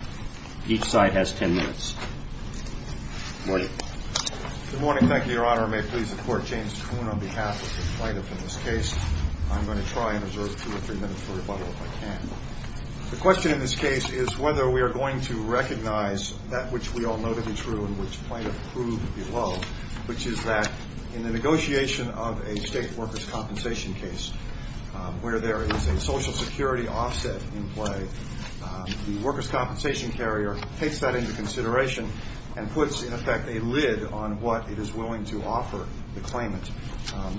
The question in this case is whether we are going to recognize that which we all know to be true and which Plaintiff proved below, which is that in the negotiation of a state workers' compensation case where there is a Social Security offset in play, the workers' compensation carrier takes that into consideration and puts, in effect, a lid on what it is willing to offer the claimant.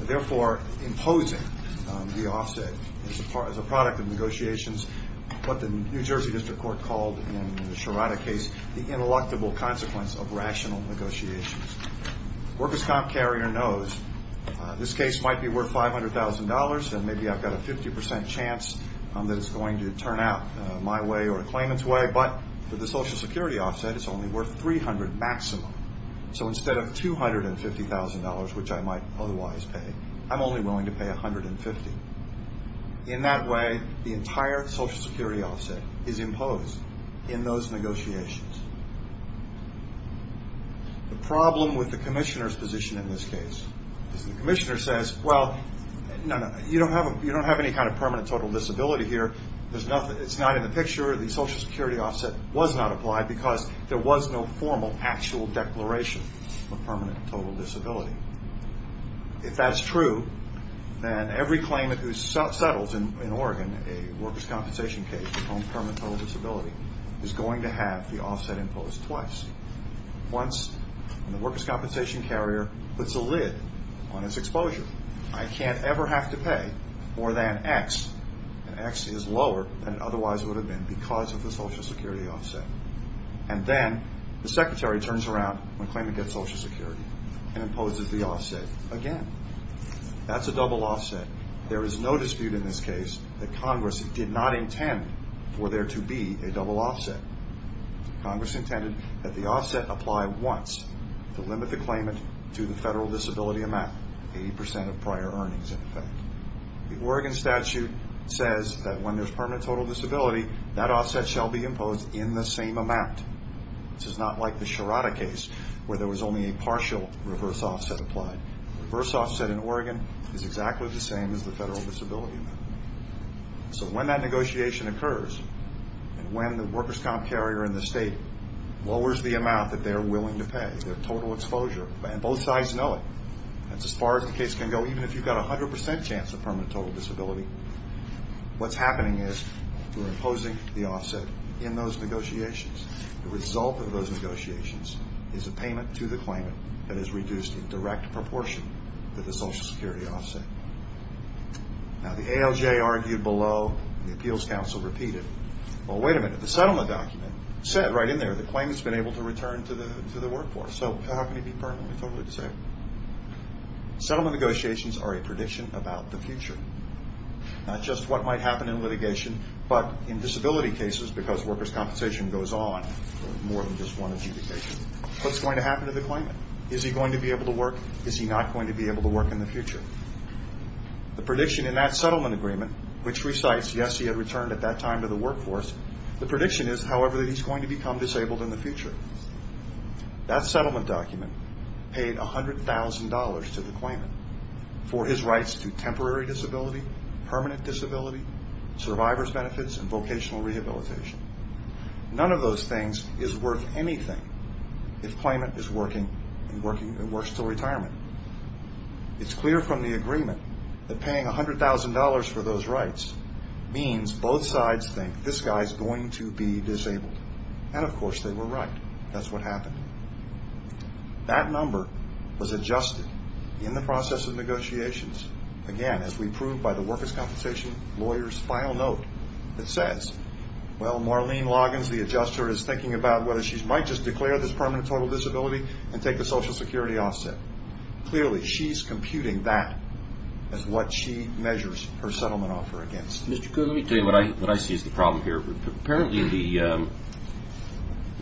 Therefore, imposing the offset is a product of negotiations, what the New Jersey District Court called in the Sherrata case, the ineluctable consequence of rational negotiations. The workers' comp carrier knows this case might be worth $500,000 and maybe I've got a 50% chance that it's going to turn out my way or a claimant's way, but for the Social Security offset, it's only worth $300,000 maximum. So instead of $250,000, which I might otherwise pay, I'm only willing to pay $150,000. In that way, the entire Social Security offset is imposed in those negotiations. The problem with the you don't have any kind of permanent total disability here. It's not in the picture. The Social Security offset was not applied because there was no formal actual declaration of permanent total disability. If that's true, then every claimant who settles in Oregon a workers' compensation case on permanent total disability is going to have the offset imposed twice. Once, the workers' compensation carrier puts a lid on its exposure. I can't ever have to pay more than X, and X is lower than it otherwise would have been because of the Social Security offset. And then the Secretary turns around when a claimant gets Social Security and imposes the offset again. That's a double offset. There is no dispute in this case that Congress did not intend for there to be a double offset. Congress intended that the offset apply once to limit the claimant to the federal disability amount, 80% of prior earnings in effect. The Oregon statute says that when there's permanent total disability, that offset shall be imposed in the same amount. This is not like the Sherrata case where there was only a partial reverse offset applied. The reverse offset in Oregon is exactly the same as the federal disability amount. So when that negotiation occurs, and when the workers' comp carrier in the state lowers the amount that they're willing to pay, as far as the case can go, even if you've got a 100% chance of permanent total disability, what's happening is we're imposing the offset in those negotiations. The result of those negotiations is a payment to the claimant that is reduced in direct proportion to the Social Security offset. Now, the ALJ argued below, the Appeals Council repeated, well, wait a minute, the settlement document said right in there the claimant's been able to Settlement negotiations are a prediction about the future. Not just what might happen in litigation, but in disability cases, because workers' compensation goes on for more than just one adjudication, what's going to happen to the claimant? Is he going to be able to work? Is he not going to be able to work in the future? The prediction in that settlement agreement, which recites, yes, he had returned at that time to the workforce, the prediction is, however, that he's going to become disabled in the future. That settlement document paid $100,000 to the claimant for his rights to temporary disability, permanent disability, survivor's benefits, and vocational rehabilitation. None of those things is worth anything if claimant is working and works until retirement. It's clear from the agreement that paying $100,000 for those rights means both sides think, this guy's going to be disabled. And of course, they were right. That's what happened. That number was adjusted in the process of negotiations, again, as we proved by the workers' compensation lawyer's final note that says, well, Marlene Loggins, the adjuster, is thinking about whether she might just declare this permanent total disability and take the Social Security offset. Clearly, she's computing that as what she measures her settlement offer against. Mr. Cook, let me tell you what I see as the problem here. Apparently, the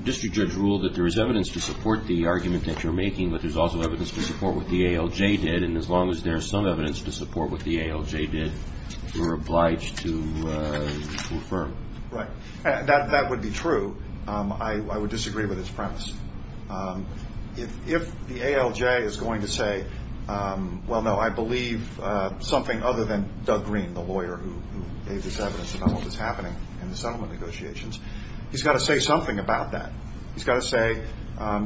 district judge ruled that there is evidence to support the argument that you're making, but there's also evidence to support what the ALJ did, and as long as there's some evidence to support what the ALJ did, you're obliged to affirm. Right. That would be true. I would disagree with its premise. If the ALJ is going to say, well, no, I believe something other than Doug Green, the lawyer who gave this evidence about what was happening in the settlement negotiations, he's got to say something about that. He's got to say,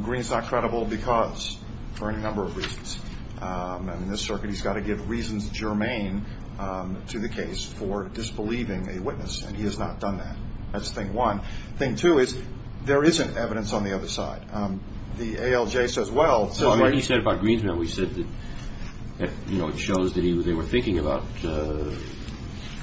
Green's not credible because, for any number of reasons, and in this circuit, he's got to give reasons germane to the case for disbelieving a witness, and he has not done that. That's thing one. Thing two is, there isn't evidence on the other side. The It shows that they were thinking about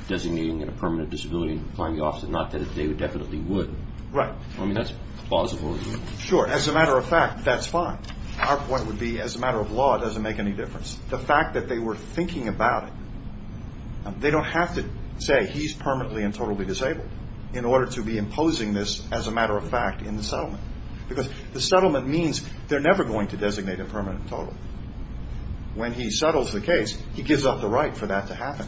designating a permanent disability and applying the office, not that they definitely would. Right. I mean, that's plausible. Sure. As a matter of fact, that's fine. Our point would be, as a matter of law, it doesn't make any difference. The fact that they were thinking about it, they don't have to say he's permanently and totally disabled in order to be imposing this as a matter of fact in the settlement, because the settlement means they're never going to designate a permanent total. When he settles the case, he gives up the right for that to happen.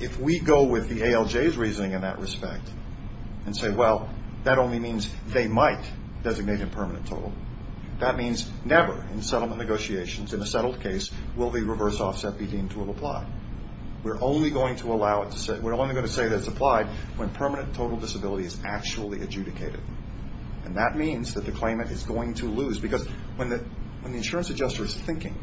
If we go with the ALJ's reasoning in that respect and say, well, that only means they might designate a permanent total, that means never in settlement negotiations, in a settled case, will the reverse offset be deemed to have applied. We're only going to allow it to say, we're only going to say that it's applied when permanent total disability is actually adjudicated. And that means that the claimant is going to lose. Because when the insurance adjuster is thinking,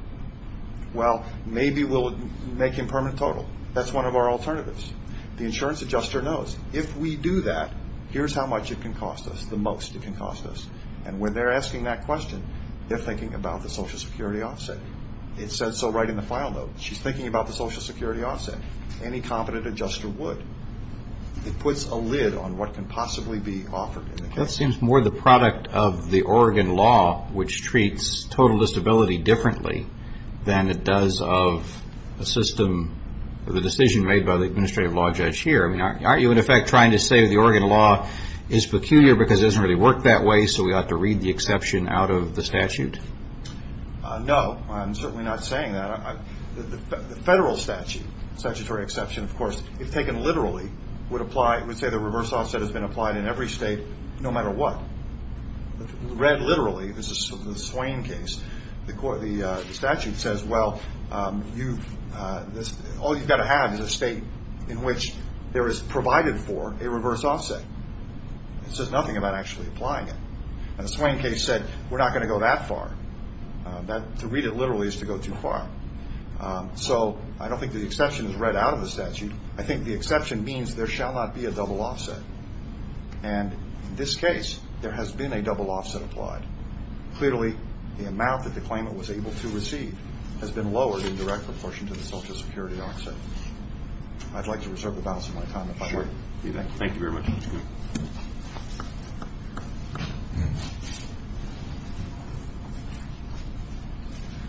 well, maybe we'll make him permanent total. That's one of our alternatives. The insurance adjuster knows, if we do that, here's how much it can cost us, the most it can cost us. And when they're asking that question, they're thinking about the Social Security offset. It says so right in the file note. She's thinking about the Social Security offset. Any competent adjuster would. It puts a lid on what can possibly be offered in the case. That seems more the product of the Oregon law, which treats total disability differently than it does of a system or the decision made by the administrative law judge here. I mean, aren't you, in effect, trying to say the Oregon law is peculiar because it doesn't really work that way, so we ought to read the exception out of the statute? No, I'm certainly not saying that. The federal statute, statutory exception, of course, if taken literally, would say the reverse offset has been applied in every state no matter what. Read literally, this is the Swain case, the statute says, well, all you've got to have is a state in which there is provided for a reverse offset. It says nothing about actually applying it. And the Swain case said we're not going to go that far. To read it literally is to go too far. So I don't think the exception is read out of the statute. I think the exception means there shall not be a double offset. And in this case, there has been a double offset applied. Clearly, the amount that the claimant was able to receive has been lowered in direct proportion to the Social Security offset. I'd like to reserve the balance of my time if I may. Thank you very much. Good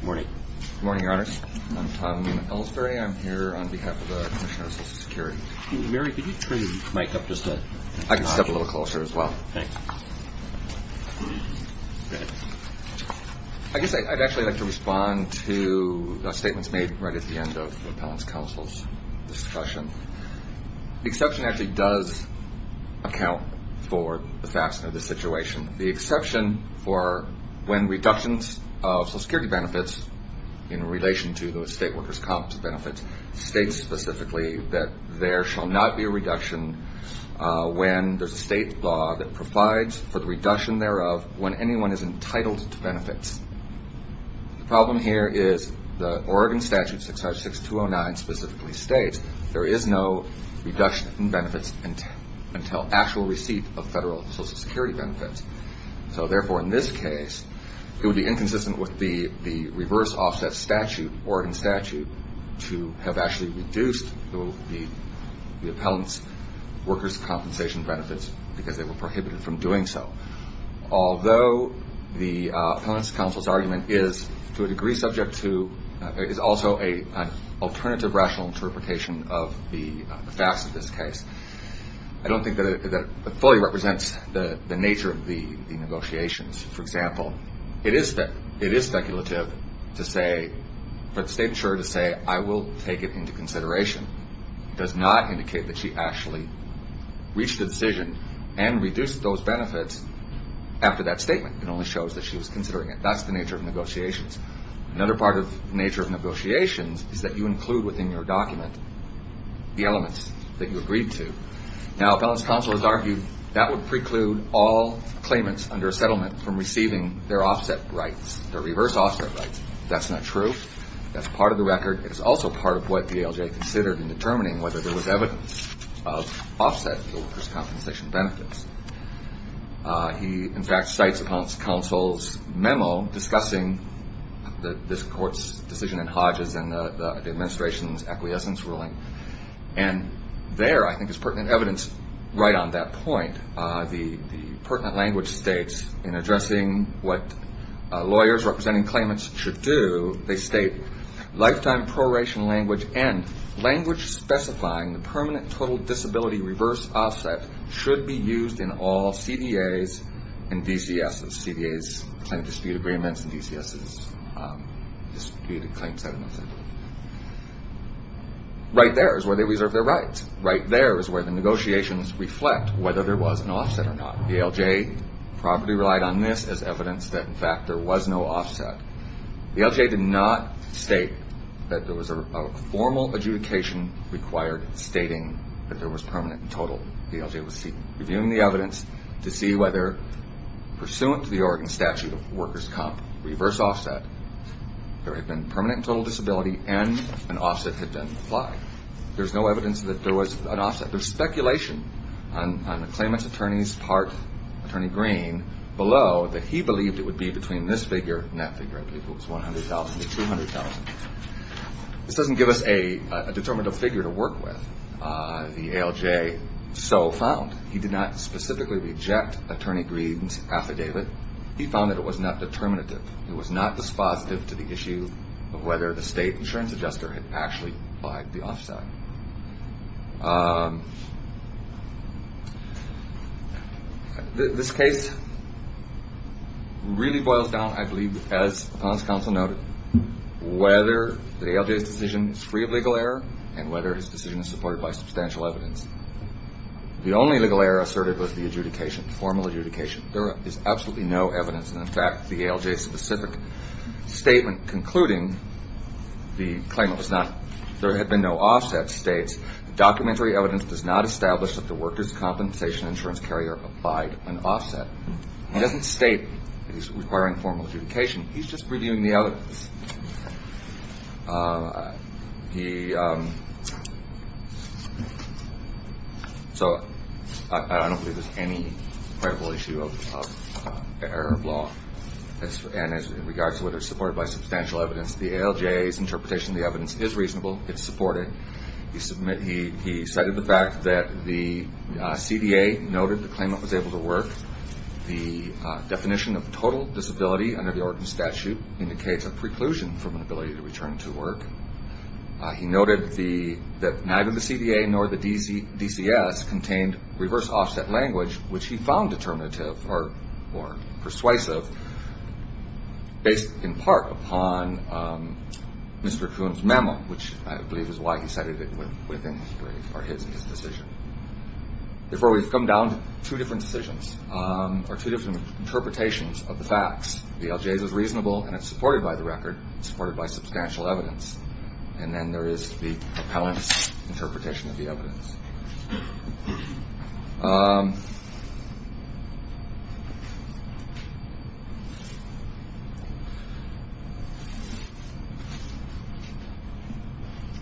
morning. Good morning, Your Honors. I'm Tom Ellsbury. I'm here on behalf of the Commissioner of Social Security. Mary, could you turn your mic up just a notch? I can step a little closer as well. Thanks. I guess I'd actually like to respond to the statements made right at the end of the statement. The exception actually does account for the facts of the situation. The exception for when reductions of Social Security benefits in relation to the state workers' comp benefits states specifically that there shall not be a reduction when there's a state law that provides for the reduction thereof when anyone is entitled to benefits. The problem here is the Oregon Statute 656-209 specifically states there is no reduction in benefits until actual receipt of federal Social Security benefits. So, therefore, in this case, it would be inconsistent with the reverse offset statute, Oregon statute, to have actually reduced the appellant's workers' compensation benefits because they were prohibited from is also an alternative rational interpretation of the facts of this case. I don't think that it fully represents the nature of the negotiations. For example, it is speculative for the state insurer to say, I will take it into consideration. It does not indicate that she actually reached a decision and reduced those benefits after that statement. It only shows that she was considering it. That's the nature of negotiations. Another part of the nature of negotiations is that you include within your document the elements that you agreed to. Now, appellant's counsel has argued that would preclude all claimants under a settlement from receiving their offset rights, their reverse offset rights. That's not true. That's part of the record. It's also part of what the ALJ considered in determining whether there was evidence of offset workers' compensation benefits. He, in fact, cites appellant's counsel's memo discussing this court's decision in Hodges and the administration's acquiescence ruling. And there, I think, is pertinent evidence right on that point. The pertinent language states in addressing what lawyers representing claimants should do, they state, lifetime proration language and language specifying the permanent total disability reverse offset should be used in all CDAs and DCSs. CDAs claim dispute agreements and DCSs dispute claims settlement. Right there is where they reserve their rights. Right there is where the negotiations reflect whether there was an offset or not. The ALJ probably relied on this as evidence that, in fact, there was no offset. The ALJ did not state that there was a formal adjudication required stating that there was permanent and total. The ALJ was reviewing the evidence to see whether, pursuant to the Oregon statute of workers' comp, reverse offset, there had been permanent and total disability and an offset had been applied. There's no evidence that there was an offset. There's speculation on the claimant's attorney's part, Attorney Green, below that he believed it would be between this figure and that figure. I believe it was 100,000 to 200,000. This doesn't give us a determinative figure to work with. The ALJ so found. He did not specifically reject Attorney Green's affidavit. He found that it was not determinative. It was not dispositive to the issue of whether the state insurance adjuster had actually applied the offset. This case really boils down, I believe, as the Finance Council noted, whether the ALJ's decision is free of legal error and whether his decision is supported by substantial evidence. The only legal error asserted was the adjudication, the formal adjudication. There is absolutely no evidence that, in fact, the ALJ's specific statement concluding the claimant was not, there had been no offset states, documentary evidence does not establish that the workers' compensation insurance carrier applied an offset. It doesn't state that he's requiring formal adjudication. He's just reviewing the evidence. So I don't believe there's any credible issue of error of law. And in regards to whether it's supported by substantial evidence, the ALJ's interpretation of the evidence is reasonable. It's supported. He cited the fact that the CDA noted the claimant was able to work. The definition of total disability under the Oregon statute indicates a preclusion from an ability to return to work. He noted that neither the CDA nor the DCS contained reverse offset language, which he found determinative or persuasive based in part upon Mr. Kuhn's memo, which I believe is why he cited it within his decision. Before we come down to two different decisions or two different interpretations of the facts, the ALJ's is reasonable and it's supported by the record, supported by substantial evidence. And then there is the appellant's interpretation of the evidence. I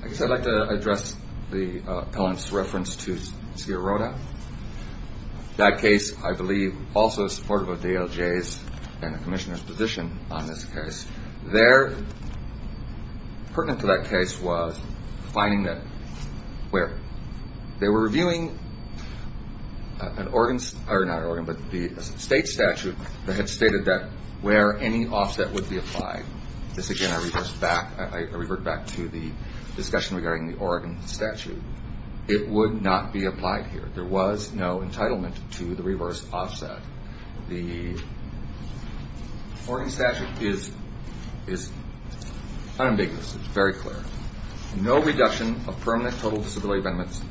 guess I'd like to address the appellant's reference to Sierra Rota. That case, I believe, also is supportive of the ALJ's and the Commissioner's position on this case. Their particular commitment to that case was finding that where they were reviewing an Oregon, or not Oregon, but the state statute that had stated that where any offset would be applied. This, again, I revert back to the discussion regarding the Oregon statute. It would not be applied here. There was no entitlement to the reverse offset. The Oregon statute is unambiguous. It's very clear. No reduction of permanent total disability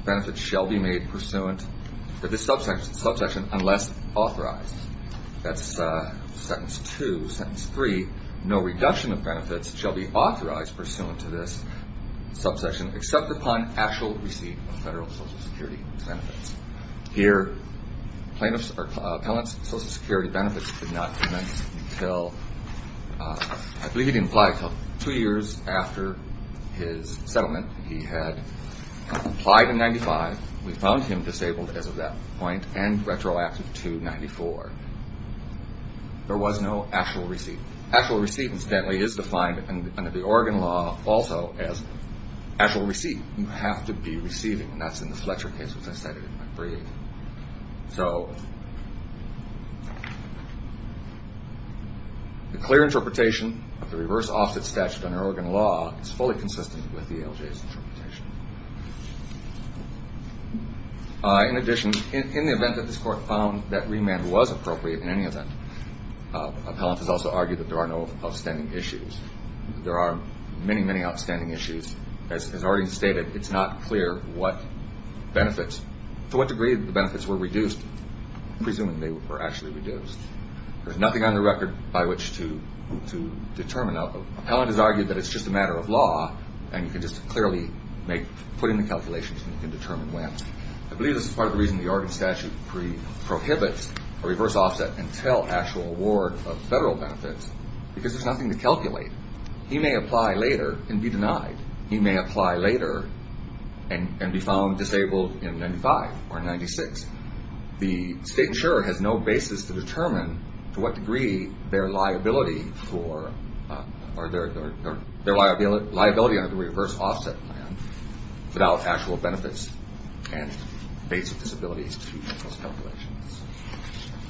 benefits shall be made pursuant to this subsection unless authorized. That's sentence two. Sentence three, no reduction of benefits shall be authorized pursuant to this subsection except upon actual receipt of federal Social Security benefits. Here, appellant's Social Security benefits did not commence until, I believe it didn't apply until two years after his settlement. He had applied in 1995. We found him disabled as of that point and retroactive to 1994. There was no actual receipt. Actual receipt, incidentally, is defined under the Oregon law also as actual receipt. You have to be receiving. That's in the Fletcher case, which I cited in my brief. So the clear interpretation of the reverse offset statute under Oregon law is fully consistent with the ALJ's interpretation. In addition, in the event that this Court found that remand was appropriate in any event, appellant has also argued that there are no outstanding issues. There are many, many outstanding issues. As already stated, it's not clear what benefits, to what degree the benefits were reduced, presuming they were actually reduced. There's nothing on the record by which to determine. Now, appellant has argued that it's just a matter of law, and you can just clearly make, put in the calculations, and you can determine when. I believe this is part of the reason the Oregon statute prohibits a reverse offset until actual award of federal benefits, because there's nothing to calculate. He may apply later and be denied. He may apply later and be found disabled in 95 or 96. The state insurer has no basis to determine to what degree their liability under the reverse offset plan without actual benefits and basic disabilities to make those calculations.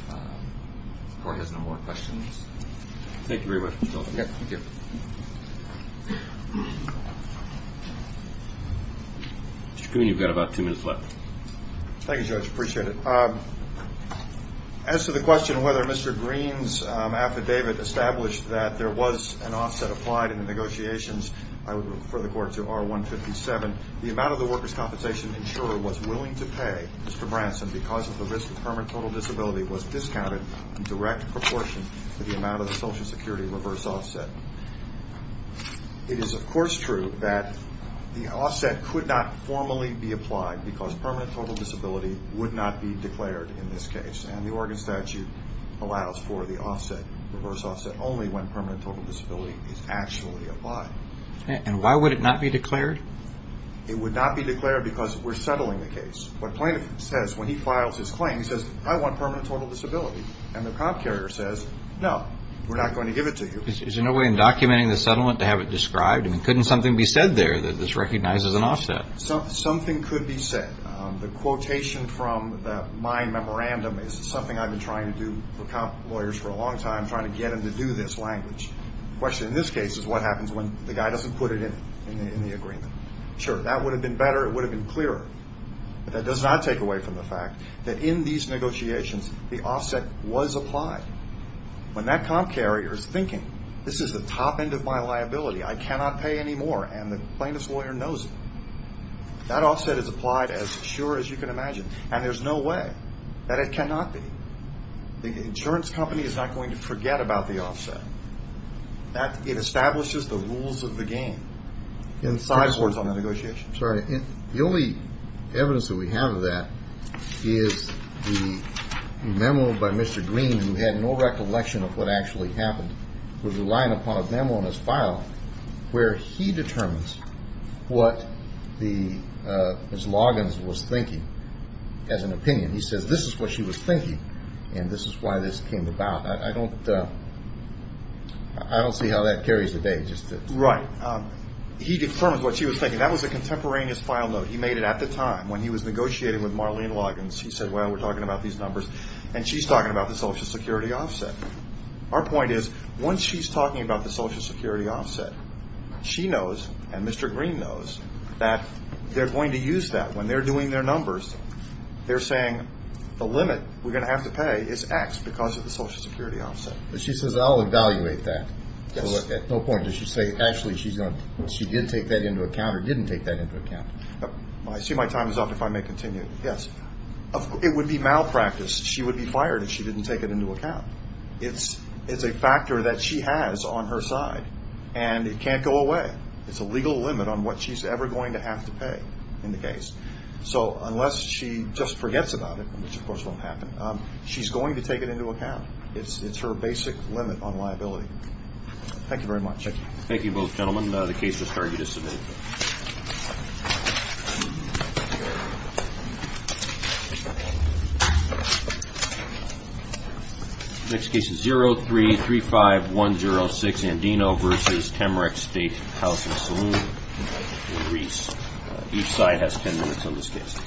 The Court has no more questions. Thank you very much. Mr. Coon, you've got about two minutes left. Thank you, Judge. I appreciate it. As to the question whether Mr. Green's affidavit established that there was an offset applied in the negotiations, I would refer the Court to R157. The amount of the workers' compensation the insurer was willing to pay Mr. Branson because of the risk of permanent total disability was discounted in direct proportion to the amount of the Social Security reverse offset. It is, of course, true that the offset could not formally be applied because permanent total disability would not be declared in this case, and the Oregon statute allows for the offset, reverse offset, only when permanent total disability is actually applied. And why would it not be declared? It would not be declared because we're settling the case. What plaintiff says when he files his claim, he says, I want permanent total disability. And the comp carrier says, no, we're not going to give it to you. Is there no way in documenting the settlement to have it described? I mean, couldn't something be said there that this recognizes an offset? Something could be said. The quotation from my memorandum is something I've been trying to do for comp lawyers for a long time, trying to get them to do this language. The question in this case is what happens when the guy doesn't put it in the agreement. Sure, that would have been better. It would have been clearer. But that does not take away from the fact that in these negotiations, the offset was applied. When that comp carrier is thinking, this is the top end of my liability. I cannot pay anymore. And the plaintiff's lawyer knows it. That offset is applied as sure as you can imagine. And there's no way that it cannot be. The insurance company is not going to forget about the offset. It establishes the rules of the game. The only evidence that we have of that is the memo by Mr. Green, who had no recollection of what actually happened, was relying upon a memo in his file where he determines what Ms. Green was thinking. And this is why this came about. I don't see how that carries the day. Right. He determines what she was thinking. That was a contemporaneous file note. He made it at the time when he was negotiating with Marlene Loggins. He said, well, we're talking about these numbers. And she's talking about the Social Security offset. Our point is, once she's talking about the Social Security offset, she knows and Mr. Green knows that they're going to use that when they're doing their numbers. They're saying, the limit we're going to have to pay is X because of the Social Security offset. She says, I'll evaluate that. At no point does she say, actually, she did take that into account or didn't take that into account. I see my time is up, if I may continue. It would be malpractice. She would be fired if she didn't take it into account. It's a factor that she has on her side. And it can't go away. It's a legal limit on what she's ever going to have to pay in the case. Unless she just forgets about it, which of course won't happen, she's going to take it into account. It's her basic limit on liability. Thank you very much. Thank you both gentlemen. The case has started. Next case is 03-35106 Andino v. Temerix State Housing Saloon in Greece. Each side has 10 minutes on this case.